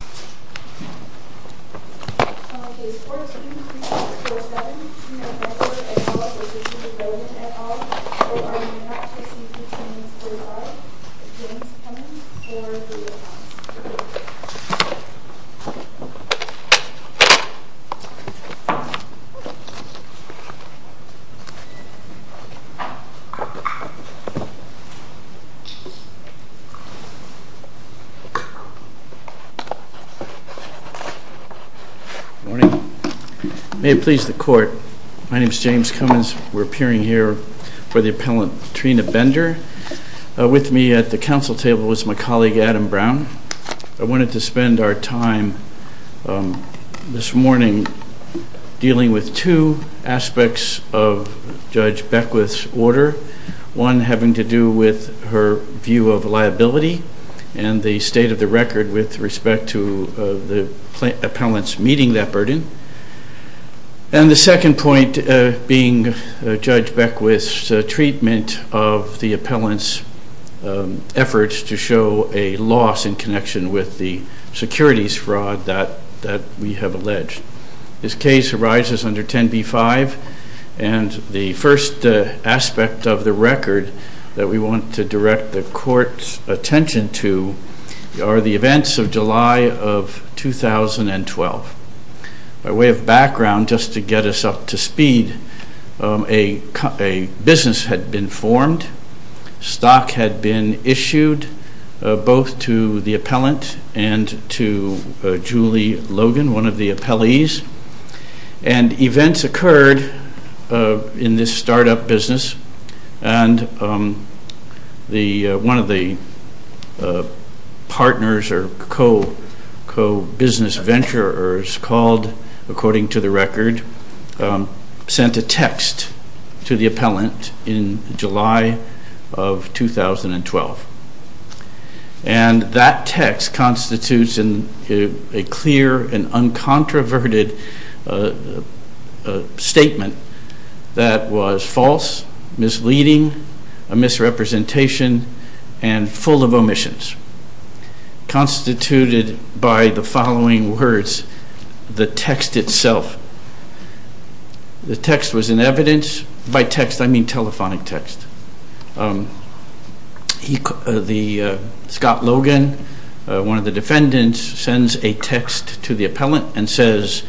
Tina Bender and Philip versus Julie Logan so far does not spport James Hennon. James Hennon for three points May it please the court. My name is James Cummins. We're appearing here for the appellant Tina Bender. With me at the council table is my colleague Adam Brown. I wanted to spend our time this morning dealing with two aspects of Judge Beckwith's order. One having to do with her view of liability and the state of the record with respect to the appellant's meeting that burden. And the second point being Judge Beckwith's treatment of the appellant's efforts to show a loss in connection with the securities fraud that that we have alleged. This case arises under 10b-5 and the first aspect of the record that we want to direct the court's attention to are the events of July of 2012. By way of background just to get us up to speed, a business had been formed, stock had been issued both to the appellant and to Julie Logan, one of the appellees, and one of the partners or co-business venturers called, according to the record, sent a text to the appellant in July of 2012. And that text constitutes a clear and uncontroverted statement that was false, misleading, a misrepresentation, and full of omissions, constituted by the following words, the text itself. The text was in evidence, by text I mean telephonic text. Scott Logan, one of the defendants, sends a text to the appellant and says,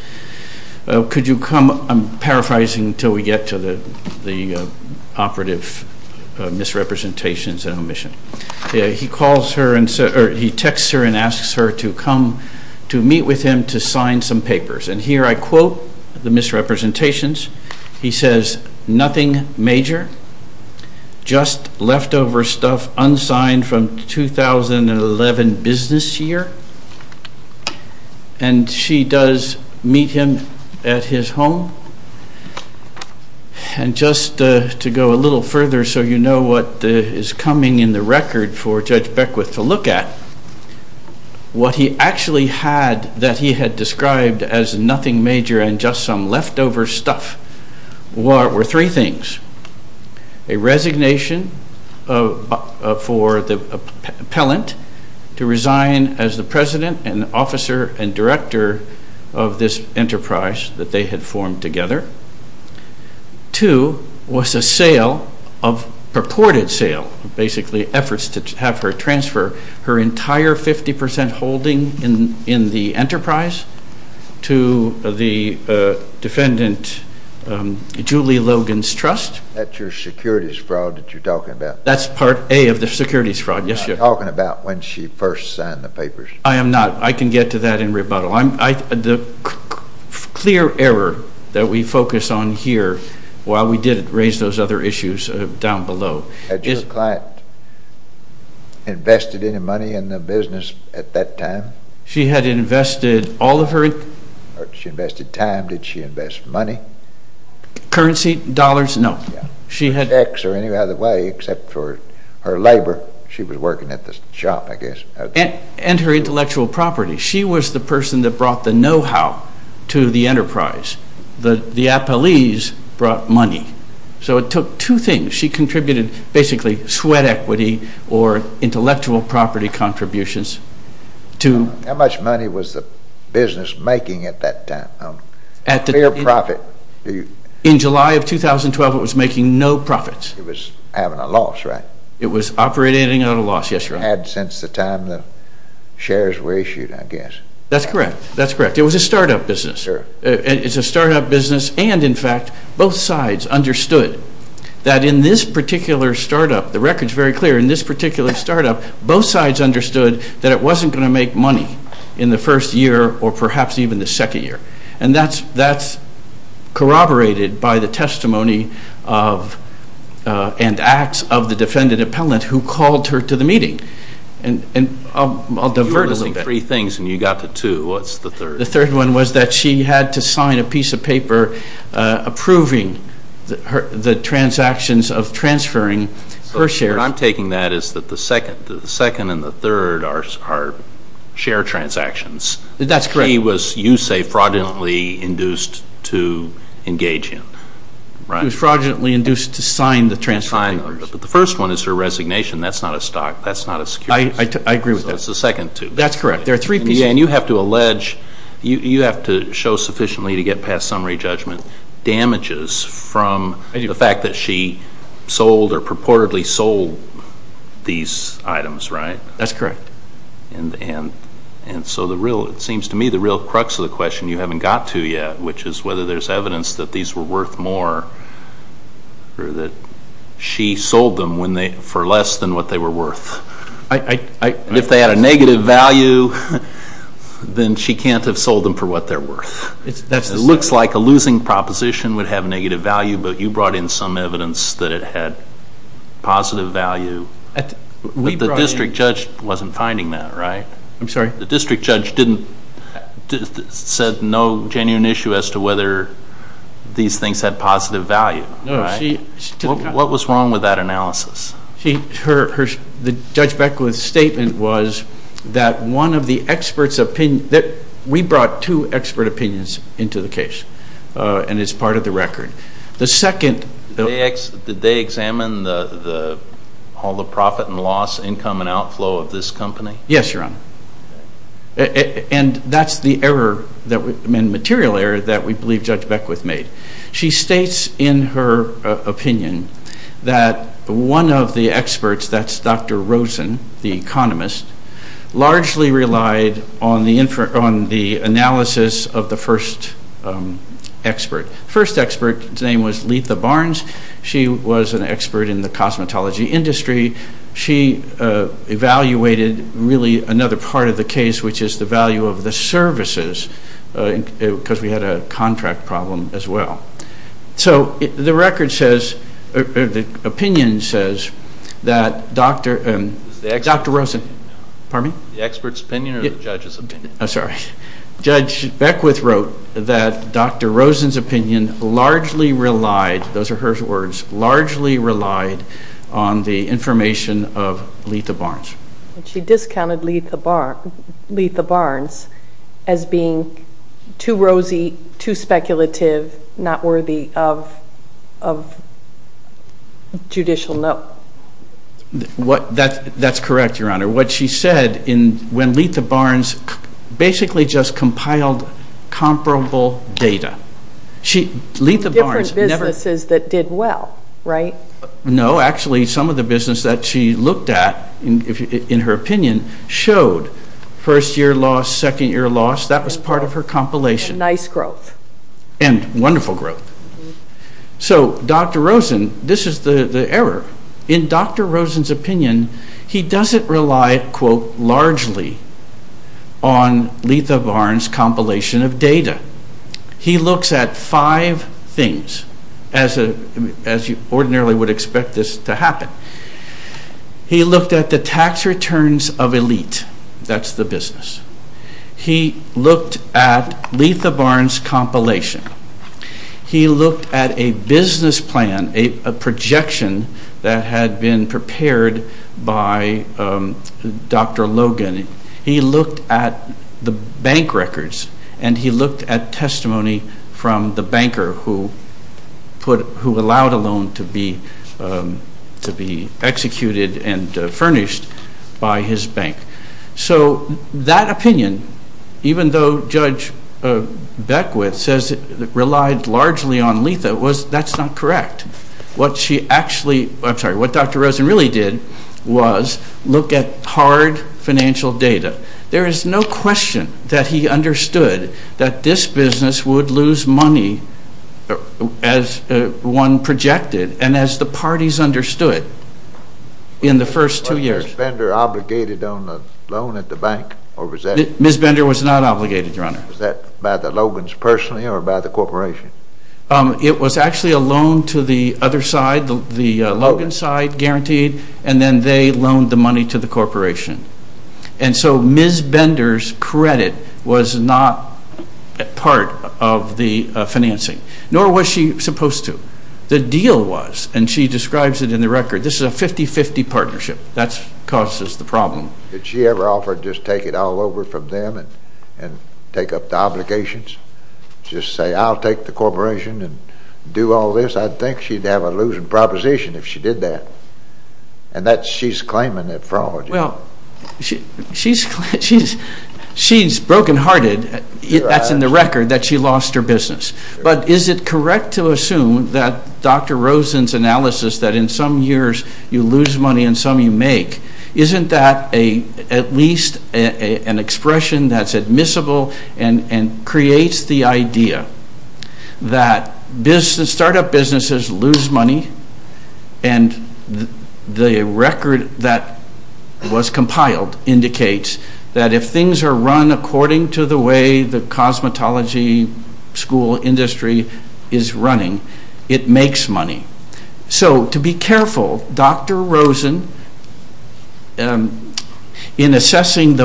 could you come, I'm paraphrasing until we get to the operative misrepresentations and omission. He calls her and he texts her and asks her to come to meet with him to sign some papers. And here I quote the misrepresentations. He says, nothing major, just leftover stuff unsigned from 2011 business year. And she does meet him at his home. And just to go a little further so you know what is coming in the record for Judge Beckwith to look at, what he actually had that he had A resignation for the appellant to resign as the president and officer and director of this enterprise that they had formed together. Two, was a sale of, purported sale, basically efforts to have her transfer her entire 50% holding in That's your securities fraud that you're talking about? That's part A of the securities fraud, yes. You're talking about when she first signed the papers. I am not. I can get to that in rebuttal. The clear error that we focus on here, while we did raise those other issues down below. Had your client invested any money in the business at that time? She had invested all of her. She invested time, did she invest money? Currency? Dollars? No. She had... Checks or any other way except for her labor. She was working at the shop I guess. And her intellectual property. She was the person that brought the know-how to the enterprise. The appellees brought money. So it took two things. She contributed basically sweat equity or intellectual property contributions to... How much money was the profit? In July of 2012 it was making no profits. It was having a loss, right? It was operating at a loss, yes. Had since the time the shares were issued I guess. That's correct. That's correct. It was a startup business. It's a startup business and in fact both sides understood that in this particular startup, the record's very clear, in this particular startup both sides understood that it wasn't going to make money in the first year or perhaps even the second. And that's corroborated by the testimony of and acts of the defendant appellant who called her to the meeting. And I'll divert a little bit. You were listing three things and you got to two. What's the third? The third one was that she had to sign a piece of paper approving the transactions of transferring her shares. So what I'm taking that is that the second and the third are share transactions. That's correct. She was, you say, fraudulently induced to engage him, right? She was fraudulently induced to sign the transfer papers. But the first one is her resignation. That's not a stock. That's not a securities. I agree with that. That's the second two. That's correct. There are three pieces. And you have to allege, you have to show sufficiently to get past summary judgment, damages from the fact that she sold or purportedly sold these items, right? That's correct. And so the real, it seems to me, the real crux of the question you haven't got to yet, which is whether there's evidence that these were worth more or that she sold them for less than what they were worth. If they had a negative value, then she can't have sold them for what they're worth. It looks like a losing proposition would have negative value, but you brought in some evidence that it had positive value. The district judge didn't, said no genuine issue as to whether these things had positive value. What was wrong with that analysis? Her, the Judge Beckwith's statement was that one of the experts opinion, that we brought two expert opinions into the case, and it's part of the record. The second. Did they examine the, all the profit and loss, income and outflow of this company? Yes, Your Honor. And that's the error, material error, that we believe Judge Beckwith made. She states in her opinion that one of the experts, that's Dr. Rosen, the economist, largely relied on the infer, on the analysis of the first expert. First expert's name was Letha Barnes. She was an expert in the cosmetology industry. She evaluated really another part of the case, which is the value of the services, because we had a contract problem as well. So the record says, the opinion says that Dr., Dr. Rosen, pardon me? The expert's opinion or the judge's opinion? I'm sorry, Judge Beckwith wrote that Dr. Rosen's opinion largely relied, those are her words, largely relied on the information of Letha Barnes. She discounted Letha Barnes as being too rosy, too speculative, not worthy of, of judicial note. What, that's, that's correct, Your Honor. What she said in, when Letha Barnes basically just compiled comparable data. She, Letha Barnes, different businesses that did well, right? No, actually some of the business that she looked at, in her opinion, showed first-year loss, second-year loss, that was part of her compilation. Nice growth. And wonderful growth. So Dr. Rosen, this is the, the error. In Dr. Rosen's opinion, he doesn't rely, quote, largely on Letha Barnes' compilation of data. He looks at five things, as a, as you ordinarily would expect this to happen. He looked at the tax returns of elite, that's the business. He looked at Letha Barnes' compilation. He looked at a business plan, a projection that had been prepared by Dr. Logan. He looked at the bank records, and he looked at testimony from the banker who put, who allowed a loan to be, to be executed and furnished by his bank. So that opinion, even though Judge Beckwith says it relied largely on Letha, was, that's not correct. What she actually, I'm sorry, what Dr. Rosen really did was look at hard financial data. There is no question that he understood that this business would lose money as one projected, and as the parties understood in the first two years. Was Ms. Bender obligated on the loan at the bank, or was that? Ms. Bender was not obligated, Your Honor. Was that by the corporation? It was actually a loan to the other side, the Logan side, guaranteed, and then they loaned the money to the corporation. And so Ms. Bender's credit was not part of the financing, nor was she supposed to. The deal was, and she describes it in the record, this is a 50-50 partnership. That causes the problem. Did she ever offer to just take it all over from them and, and take up the corporation and do all this? I'd think she'd have a losing proposition if she did that. And that's, she's claiming that fraud. Well, she's, she's, she's broken hearted, that's in the record, that she lost her business. But is it correct to assume that Dr. Rosen's analysis that in some years you lose money and some you make, isn't that a, at least an expression that's admissible and, and creates the idea that business, startup businesses lose money. And the record that was compiled indicates that if things are run according to the way the cosmetology school industry is running, it makes money. So to be careful, Dr. Rosen, the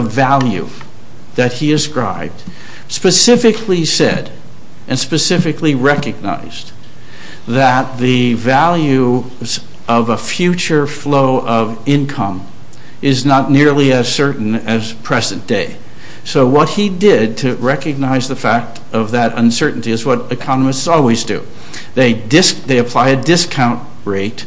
value that he ascribed, specifically said, and specifically recognized, that the value of a future flow of income is not nearly as certain as present day. So what he did to recognize the fact of that uncertainty is what economists always do. They dis-, they apply a discount rate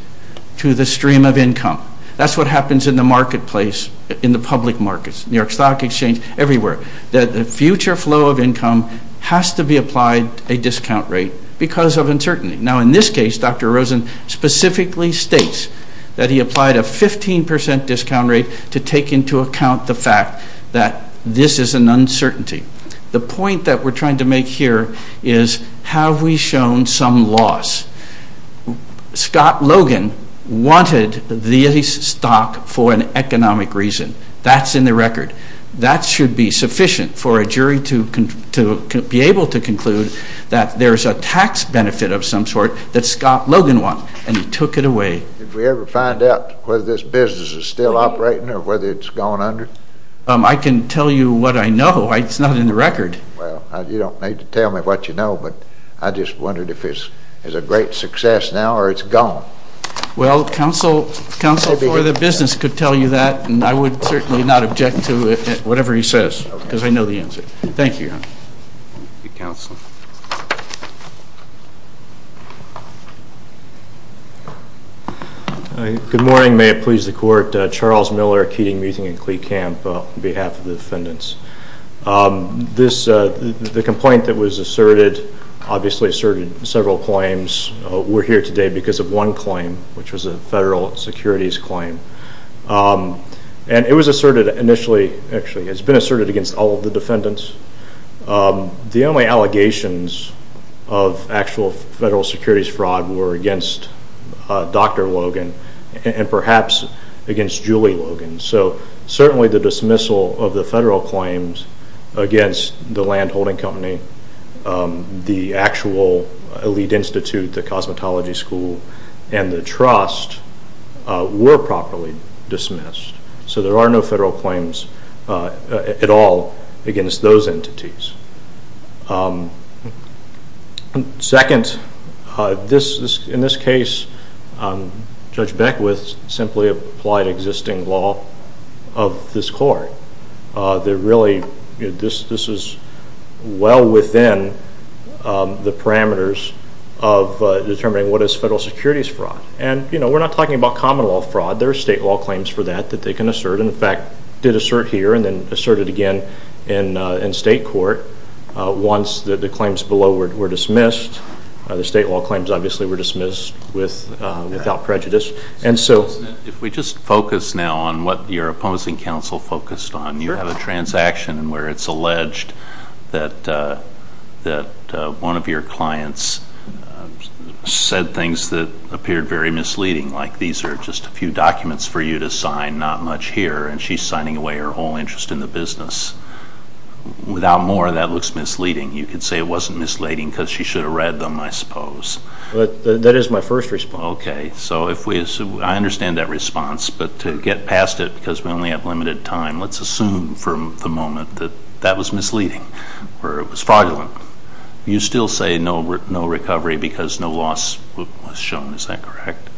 to the stream of income. That's what happens in the marketplace, in the public markets. New stock exchange, everywhere. That the future flow of income has to be applied a discount rate because of uncertainty. Now, in this case, Dr. Rosen specifically states that he applied a 15% discount rate to take into account the fact that this is an uncertainty. The point that we're trying to make here is, have we shown some loss? Scott Logan wanted the stock for an economic reason. That's in the record. That should be sufficient for a jury to con-, to be able to conclude that there's a tax benefit of some sort that Scott Logan wants, and he took it away. Did we ever find out whether this business is still operating or whether it's gone under? I can tell you what I know. It's not in the record. Well, you don't need to tell me what you know, but I just wondered if it's a great success now or it's gone. Well, counsel, counsel for the business could tell you that, and I would certainly not object to it, whatever he says, because I know the answer. Thank you, Your Honor. Thank you, counsel. Good morning. May it please the court. Charles Miller, Keating Muting and Klee Camp, on behalf of the defendants. The complaint that was asserted obviously asserted several claims. We're here today because of one claim, which was a federal securities claim, and it was asserted initially, actually it's been asserted against all of the defendants. The only allegations of actual federal securities fraud were against Dr. Logan and perhaps against Julie Logan, so certainly the dismissal of the federal claims against the landholding company, the actual elite institute, the school, and the trust were properly dismissed, so there are no federal claims at all against those entities. Second, in this case, Judge Beckwith simply applied existing law of this court. They're really, this is well within the parameters of determining what is federal securities fraud, and you know, we're not talking about common law fraud. There are state law claims for that that they can assert, and in fact did assert here and then asserted again in state court once the claims below were dismissed. The state law claims obviously were dismissed without prejudice, and so... If we just focus now on what your opposing counsel focused on, you have a transaction where it's that one of your clients said things that appeared very misleading, like these are just a few documents for you to sign, not much here, and she's signing away her whole interest in the business. Without more, that looks misleading. You could say it wasn't misleading because she should have read them, I suppose. That is my first response. Okay, so if we assume, I understand that response, but to get past it because we only have limited time, let's assume from the moment that that was misleading or it was fraudulent, you still say no recovery because no loss was shown, is that correct?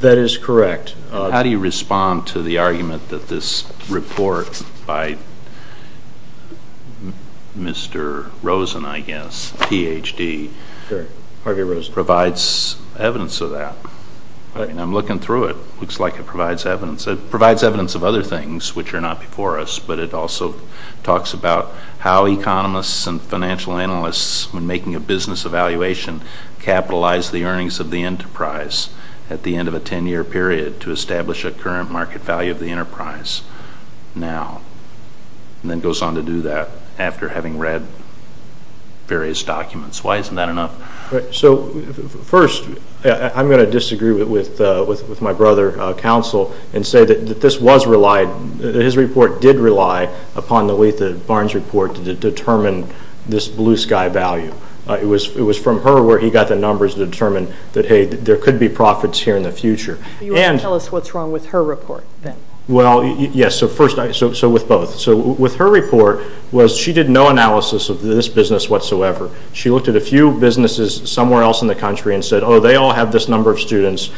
That is correct. How do you respond to the argument that this report by Mr. Rosen, I guess, PhD... Harvey Rosen. Provides evidence of that? I mean, I'm looking through it. Looks like it provides evidence. It provides evidence of other things, which are not before us, but it also talks about how economists and financial analysts, when making a business evaluation, capitalize the earnings of the enterprise at the end of a 10-year period to establish a current market value of the enterprise now, and then goes on to do that after having read various documents. Why isn't that enough? So first, I'm going to disagree with my brother, counsel, and say that this was relied, his report did rely upon the Barnes report to determine this blue sky value. It was from her where he got the numbers to determine that, hey, there could be profits here in the future. You want to tell us what's wrong with her report then? Well, yes, so first, so with both. So with her report was she did no analysis of this business whatsoever. She looked at a few businesses somewhere else in the country and said, oh, they all have this number of students,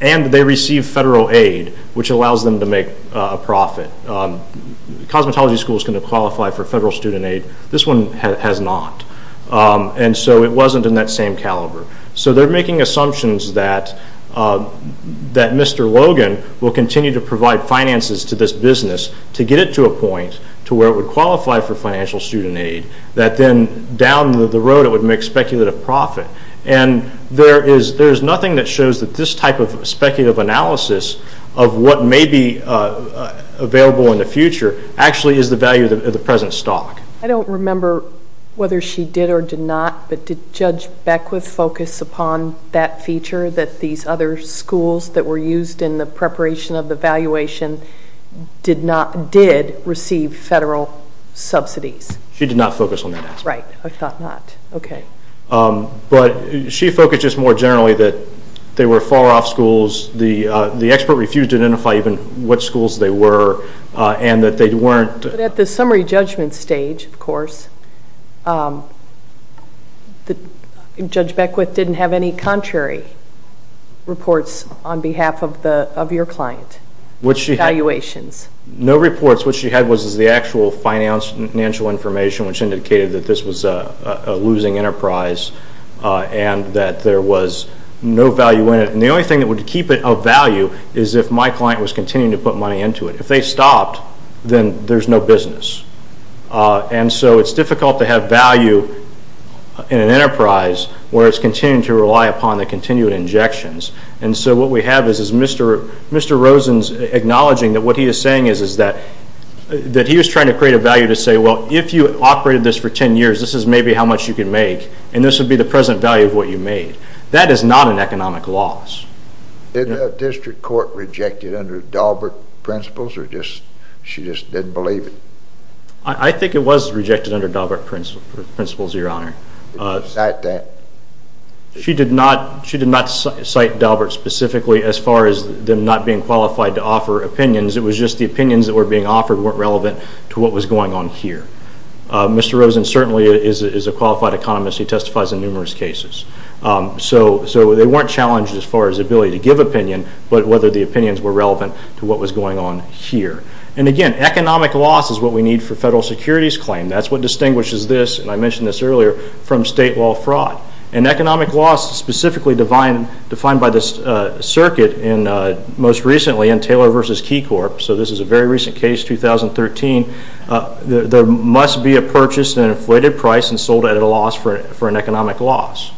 and they receive federal aid, which allows them to make a profit. Cosmetology school is going to qualify for federal student aid. This one has not, and so it wasn't in that same caliber. So they're making assumptions that Mr. Logan will continue to provide finances to this business to get it to a point to where it would qualify for financial student aid, that then down the road it would make speculative profit, and there is nothing that shows that this type of analysis of what may be available in the future actually is the value of the present stock. I don't remember whether she did or did not, but did Judge Beckwith focus upon that feature that these other schools that were used in the preparation of the valuation did not, did receive federal subsidies? She did not focus on that aspect. Right, I thought not, okay. But she focused just more generally that they were far off schools, the expert refused to identify even which schools they were, and that they weren't... But at the summary judgment stage, of course, Judge Beckwith didn't have any contrary reports on behalf of your client, valuations. No reports. What she had was the actual financial information, which indicated that this was a business that there was no value in it, and the only thing that would keep it of value is if my client was continuing to put money into it. If they stopped, then there's no business. And so it's difficult to have value in an enterprise where it's continuing to rely upon the continued injections. And so what we have is Mr. Rosen's acknowledging that what he is saying is that he was trying to create a value to say, well, if you operated this for 10 years, this is maybe how much you could make, and this would be the present value of what you made. That is not an economic loss. Did the district court reject it under Daubert principles, or she just didn't believe it? I think it was rejected under Daubert principles, Your Honor. Did she cite that? She did not cite Daubert specifically as far as them not being qualified to offer opinions. It was just the opinions that were being offered weren't relevant to what was going on here. Mr. Rosen certainly is a qualified economist. He testifies in numerous cases. So they weren't challenged as far as the ability to give opinion, but whether the opinions were relevant to what was going on here. And again, economic loss is what we need for federal securities claim. That's what distinguishes this, and I mentioned this earlier, from state law fraud. And economic loss specifically defined by this circuit most recently in Taylor v. Key Corp., so this is a very recent case, 2013. There must be a purchase at an inflated price and sold at a loss for an economic loss.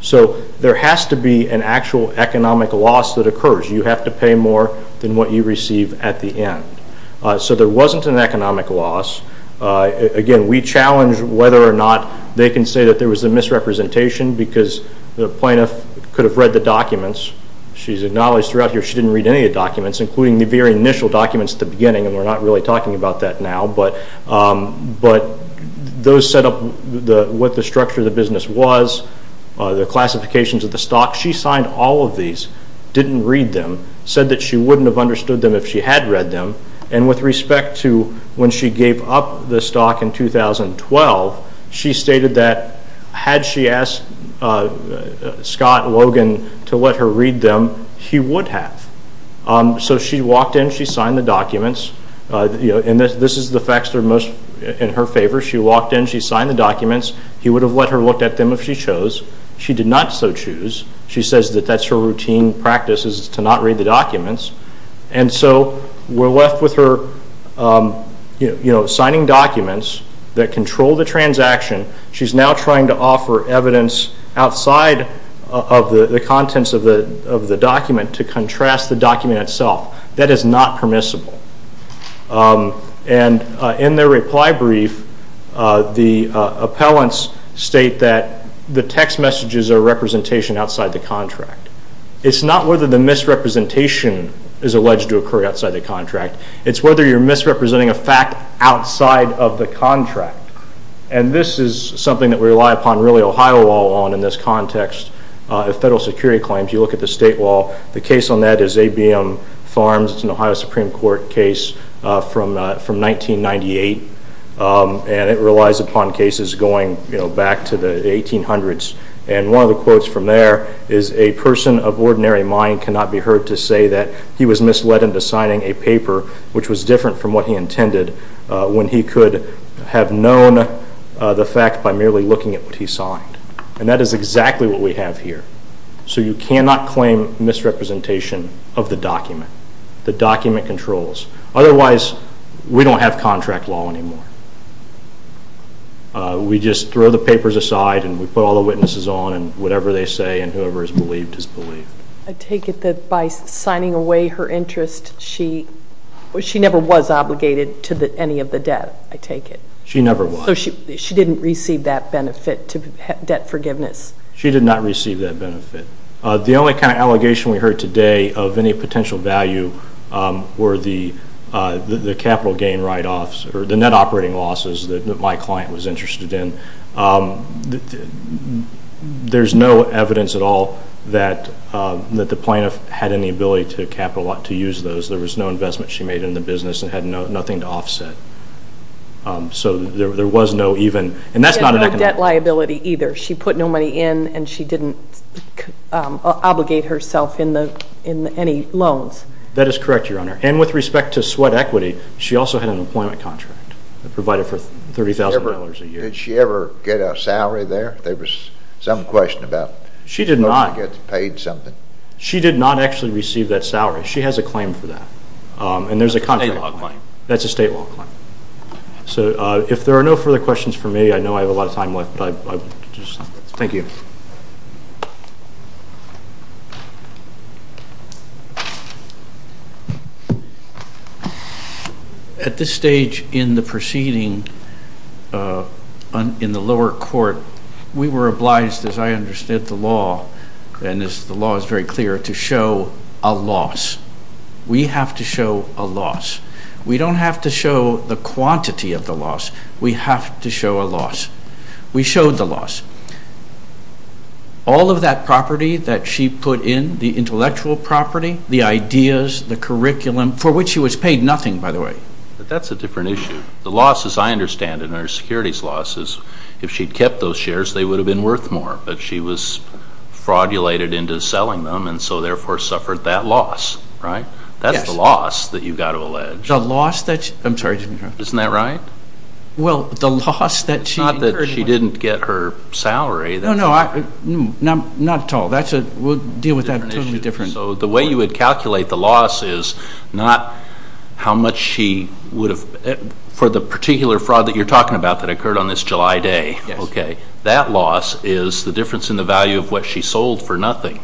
So there has to be an actual economic loss that occurs. You have to pay more than what you receive at the end. So there wasn't an economic loss. Again, we challenge whether or not they can say that there was a misrepresentation because the plaintiff could have read the documents. She's acknowledged throughout here she didn't read any of the documents, including the very initial documents at the beginning, and we're not really talking about that now, but those set up what the structure of the business was, the classifications of the stock. She signed all of these, didn't read them, said that she wouldn't have understood them if she had read them. And with respect to when she gave up the stock in 2012, she stated that had she asked Scott Logan to let her read them, he would have. So she walked in, she signed the documents, and this is the facts that are most in her favor. She walked in, she signed the documents, he would have let her look at them if she chose. She did not so choose. She says that that's her routine practice is to not read the documents. And so we're left with her signing documents that control the contents of the document to contrast the document itself. That is not permissible. And in their reply brief, the appellants state that the text messages are representation outside the contract. It's not whether the misrepresentation is alleged to occur outside the contract. It's whether you're misrepresenting a fact outside of the contract. And this is something that we rely upon really Ohio law on in this context. Federal security claims, you look at the state law. The case on that is A.B.M. Farms. It's an Ohio Supreme Court case from 1998. And it relies upon cases going back to the 1800s. And one of the quotes from there is a person of ordinary mind cannot be heard to say that he was misled into signing a paper which was different from what he intended when he could have known the And that is exactly what we have here. So you cannot claim misrepresentation of the document. The document controls. Otherwise, we don't have contract law anymore. We just throw the papers aside and we put all the witnesses on and whatever they say and whoever is believed is believed. I take it that by signing away her interest, she never was obligated to any of the debt. I take it. She never was. She didn't receive that benefit to debt forgiveness. She did not receive that benefit. The only kind of allegation we heard today of any potential value were the capital gain write-offs or the net operating losses that my client was interested in. There's no evidence at all that the plaintiff had any ability to use those. There was no investment she made in the And that's not a debt liability either. She put no money in and she didn't obligate herself in any loans. That is correct, Your Honor. And with respect to sweat equity, she also had an employment contract that provided for $30,000 a year. Did she ever get a salary there? There was some question about getting paid something. She did not actually receive that salary. She has a claim for that. And there's a contract law claim. That's a state law claim. So if there are no further questions for me, I know I have a lot of time left. Thank you. At this stage in the proceeding in the lower court, we were obliged, as I understood the law, and the law is very clear, to show a loss. We have to show a loss. We don't have to show the quantity of the loss. We have to show a loss. We showed the loss. All of that property that she put in, the intellectual property, the ideas, the curriculum, for which she was paid nothing, by the way. That's a different issue. The losses, I understand, in her securities losses, if she'd kept those shares, they would have been worth more. But she was fraudulated into selling them and so therefore suffered that loss, right? That's the loss that you've got to allege. The loss that she... I'm sorry. Isn't that right? Well, the loss that she... It's not that she didn't get her salary. No, no. Not at all. We'll deal with that in a totally different... So the way you would calculate the loss is not how much she would have... For the particular fraud that you're talking about that occurred on this July day, that loss is the difference in the value of what she sold for nothing.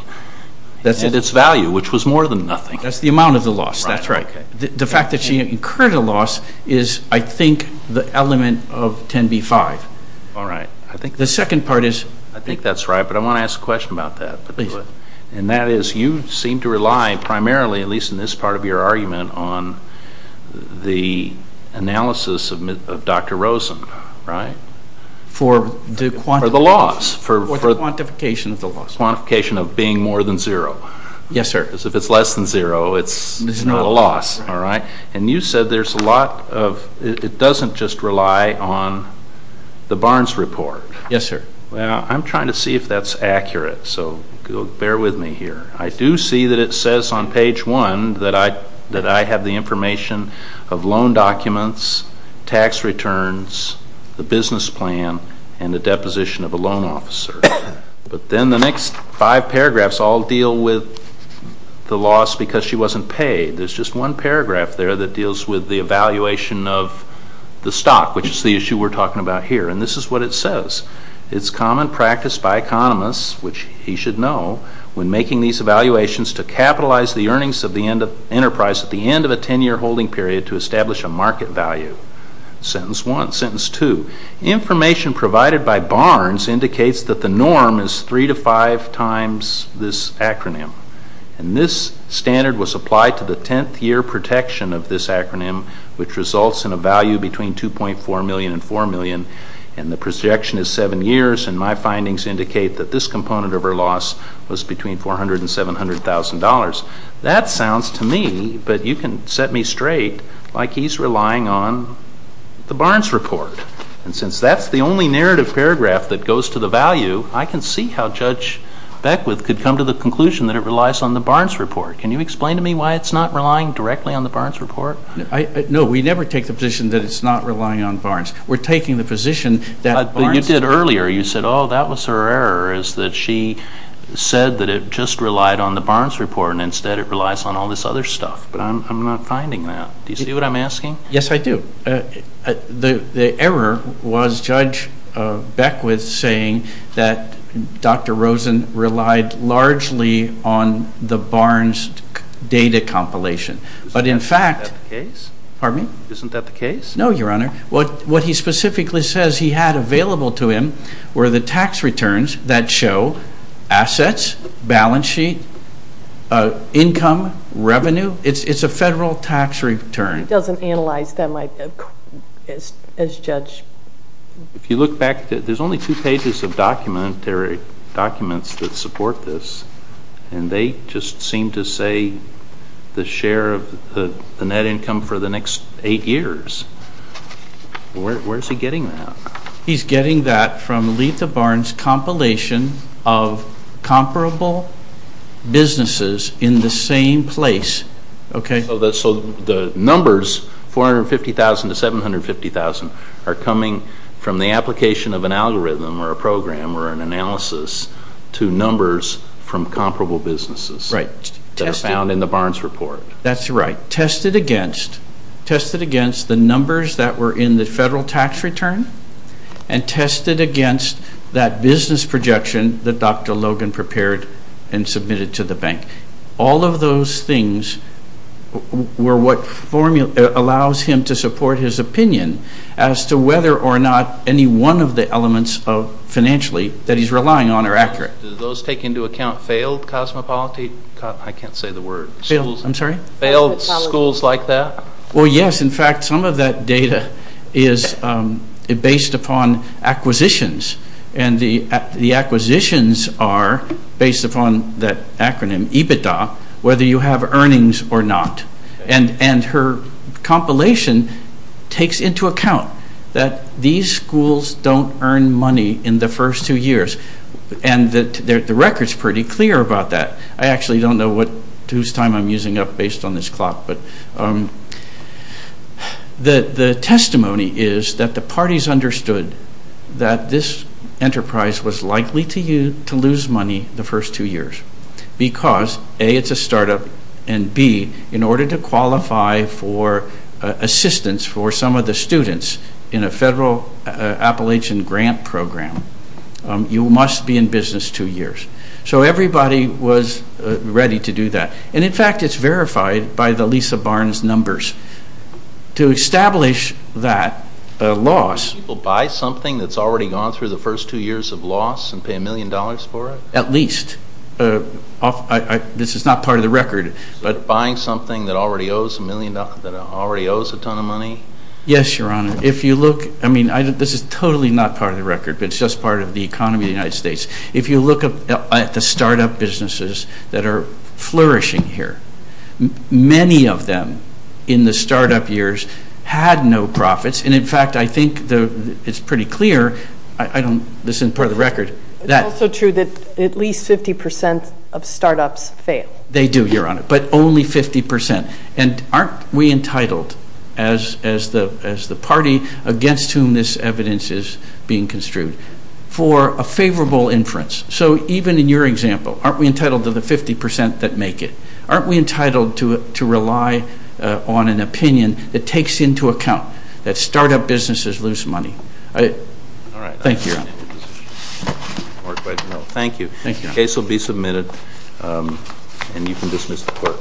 And its value, which was more than nothing. That's the amount of the loss. That's right. The fact that she incurred a loss is, I think, the element of 10b-5. All right. I think... The second part is... I think that's right, but I want to ask a question about that. Please. And that is, you seem to rely primarily, at least in this part of your argument, on the analysis of Dr. Rosen, right? For the quant... For the loss. For the quantification of the loss. Quantification of being more than zero. Yes, sir. Because if it's less than zero, it's not a loss, all right? And you said there's a lot of... It doesn't just rely on the Barnes report. Yes, sir. Well, I'm trying to see if that's accurate, so bear with me here. I do see that it says on page one that I have the information of loan documents, tax returns, the business plan, and the deposition of a loan officer, but then the next five paragraphs all deal with the loss because she wasn't paid. There's just one paragraph there that deals with the evaluation of the stock, which is the issue we're talking about here, and this is what it says. It's common practice by economists, which he should know, when making these evaluations to capitalize the earnings of the enterprise at the end of a 10-year holding period to establish a market value. Sentence one. Sentence two. Information provided by Barnes indicates that the norm is three to five times this acronym, and this standard was applied to the 10th-year protection of this acronym, which results in a value between $2.4 million and $4 million, and the projection is seven years, and my findings indicate that this component of her loss was between $400,000 and $700,000. That sounds to me, but you can set me straight like he's relying on the Barnes report, and since that's the only narrative paragraph that goes to the value, I can see how Judge Beckwith could come to the conclusion that it relies on the Barnes report. Can you explain to me why it's not relying directly on the Barnes report? No. We never take the position that it's not relying on Barnes. We're taking the position that Barnes. You did earlier. You said, oh, that was her error is that she said that it just relied on the Barnes report, and instead it relies on all this other stuff, but I'm not finding that. Do you see what I'm asking? Yes, I do. The error was Judge Beckwith saying that Dr. Rosen relied largely on the Barnes data compilation, but in fact... Isn't that the case? Pardon me? Isn't that the case? No, Your Honor. What he specifically says he had available to him were the tax returns that show assets, balance sheet, income, revenue. It's a federal tax return. He doesn't analyze them as judge. If you look back, there's only two pages of documentary documents that support this, and they just seem to say the share of the net income for the next eight years. Where's he getting that? He's getting that from Letha Barnes compilation of comparable businesses in the same place, okay? So the numbers 450,000 to 750,000 are coming from the application of an algorithm or a program or an analysis to numbers from comparable businesses that are found in the Barnes report. That's right. Tested against the numbers that were in the federal tax return and tested against that business projection that Dr. Logan prepared and submitted to the bank. All of those things were what allows him to support his opinion as to whether or not any one of the elements financially that he's relying on are accurate. Do those take into account failed cosmopolitan? I can't say the word. Failed, I'm sorry? Failed schools like that? Well, yes. In fact, some of that data is based upon acquisitions, and the acquisitions are based upon that acronym EBITDA, whether you have earnings or not. And her compilation takes into account that these schools don't earn money in the first two years. And the record's pretty clear about that. I actually don't know whose time I'm using up based on this clock, but the testimony is that the parties understood that this enterprise was likely to lose money the first two years because A, it's a startup, and B, in order to qualify for assistance for some of the students in a federal Appalachian grant program, you must be in business two years. So everybody was ready to do that. And in fact, it's verified by the Lisa Barnes numbers. To establish that loss... Buy something that's already gone through the first two years of loss and pay a million dollars for it? At least. This is not part of the record. But buying something that already owes a million dollars, that already owes a ton of money? Yes, Your Honor. If you look, I mean, this is totally not part of the record, but it's just part of the economy of the United States. If you look at the startup businesses that are flourishing here, many of them in the startup years had no profits. And in fact, I think it's pretty clear, I don't... This isn't part of the record. It's also true that at least 50% of startups fail. They do, Your Honor, but only 50%. And aren't we entitled, as the party against whom this evidence is being construed, for a favorable inference? So even in your example, aren't we entitled to the 50% that make it? Aren't we entitled to rely on an opinion that takes into account that startup businesses lose money? Thank you, Your Honor. Thank you. Thank you, Your Honor. The case will be submitted, and you can dismiss the court.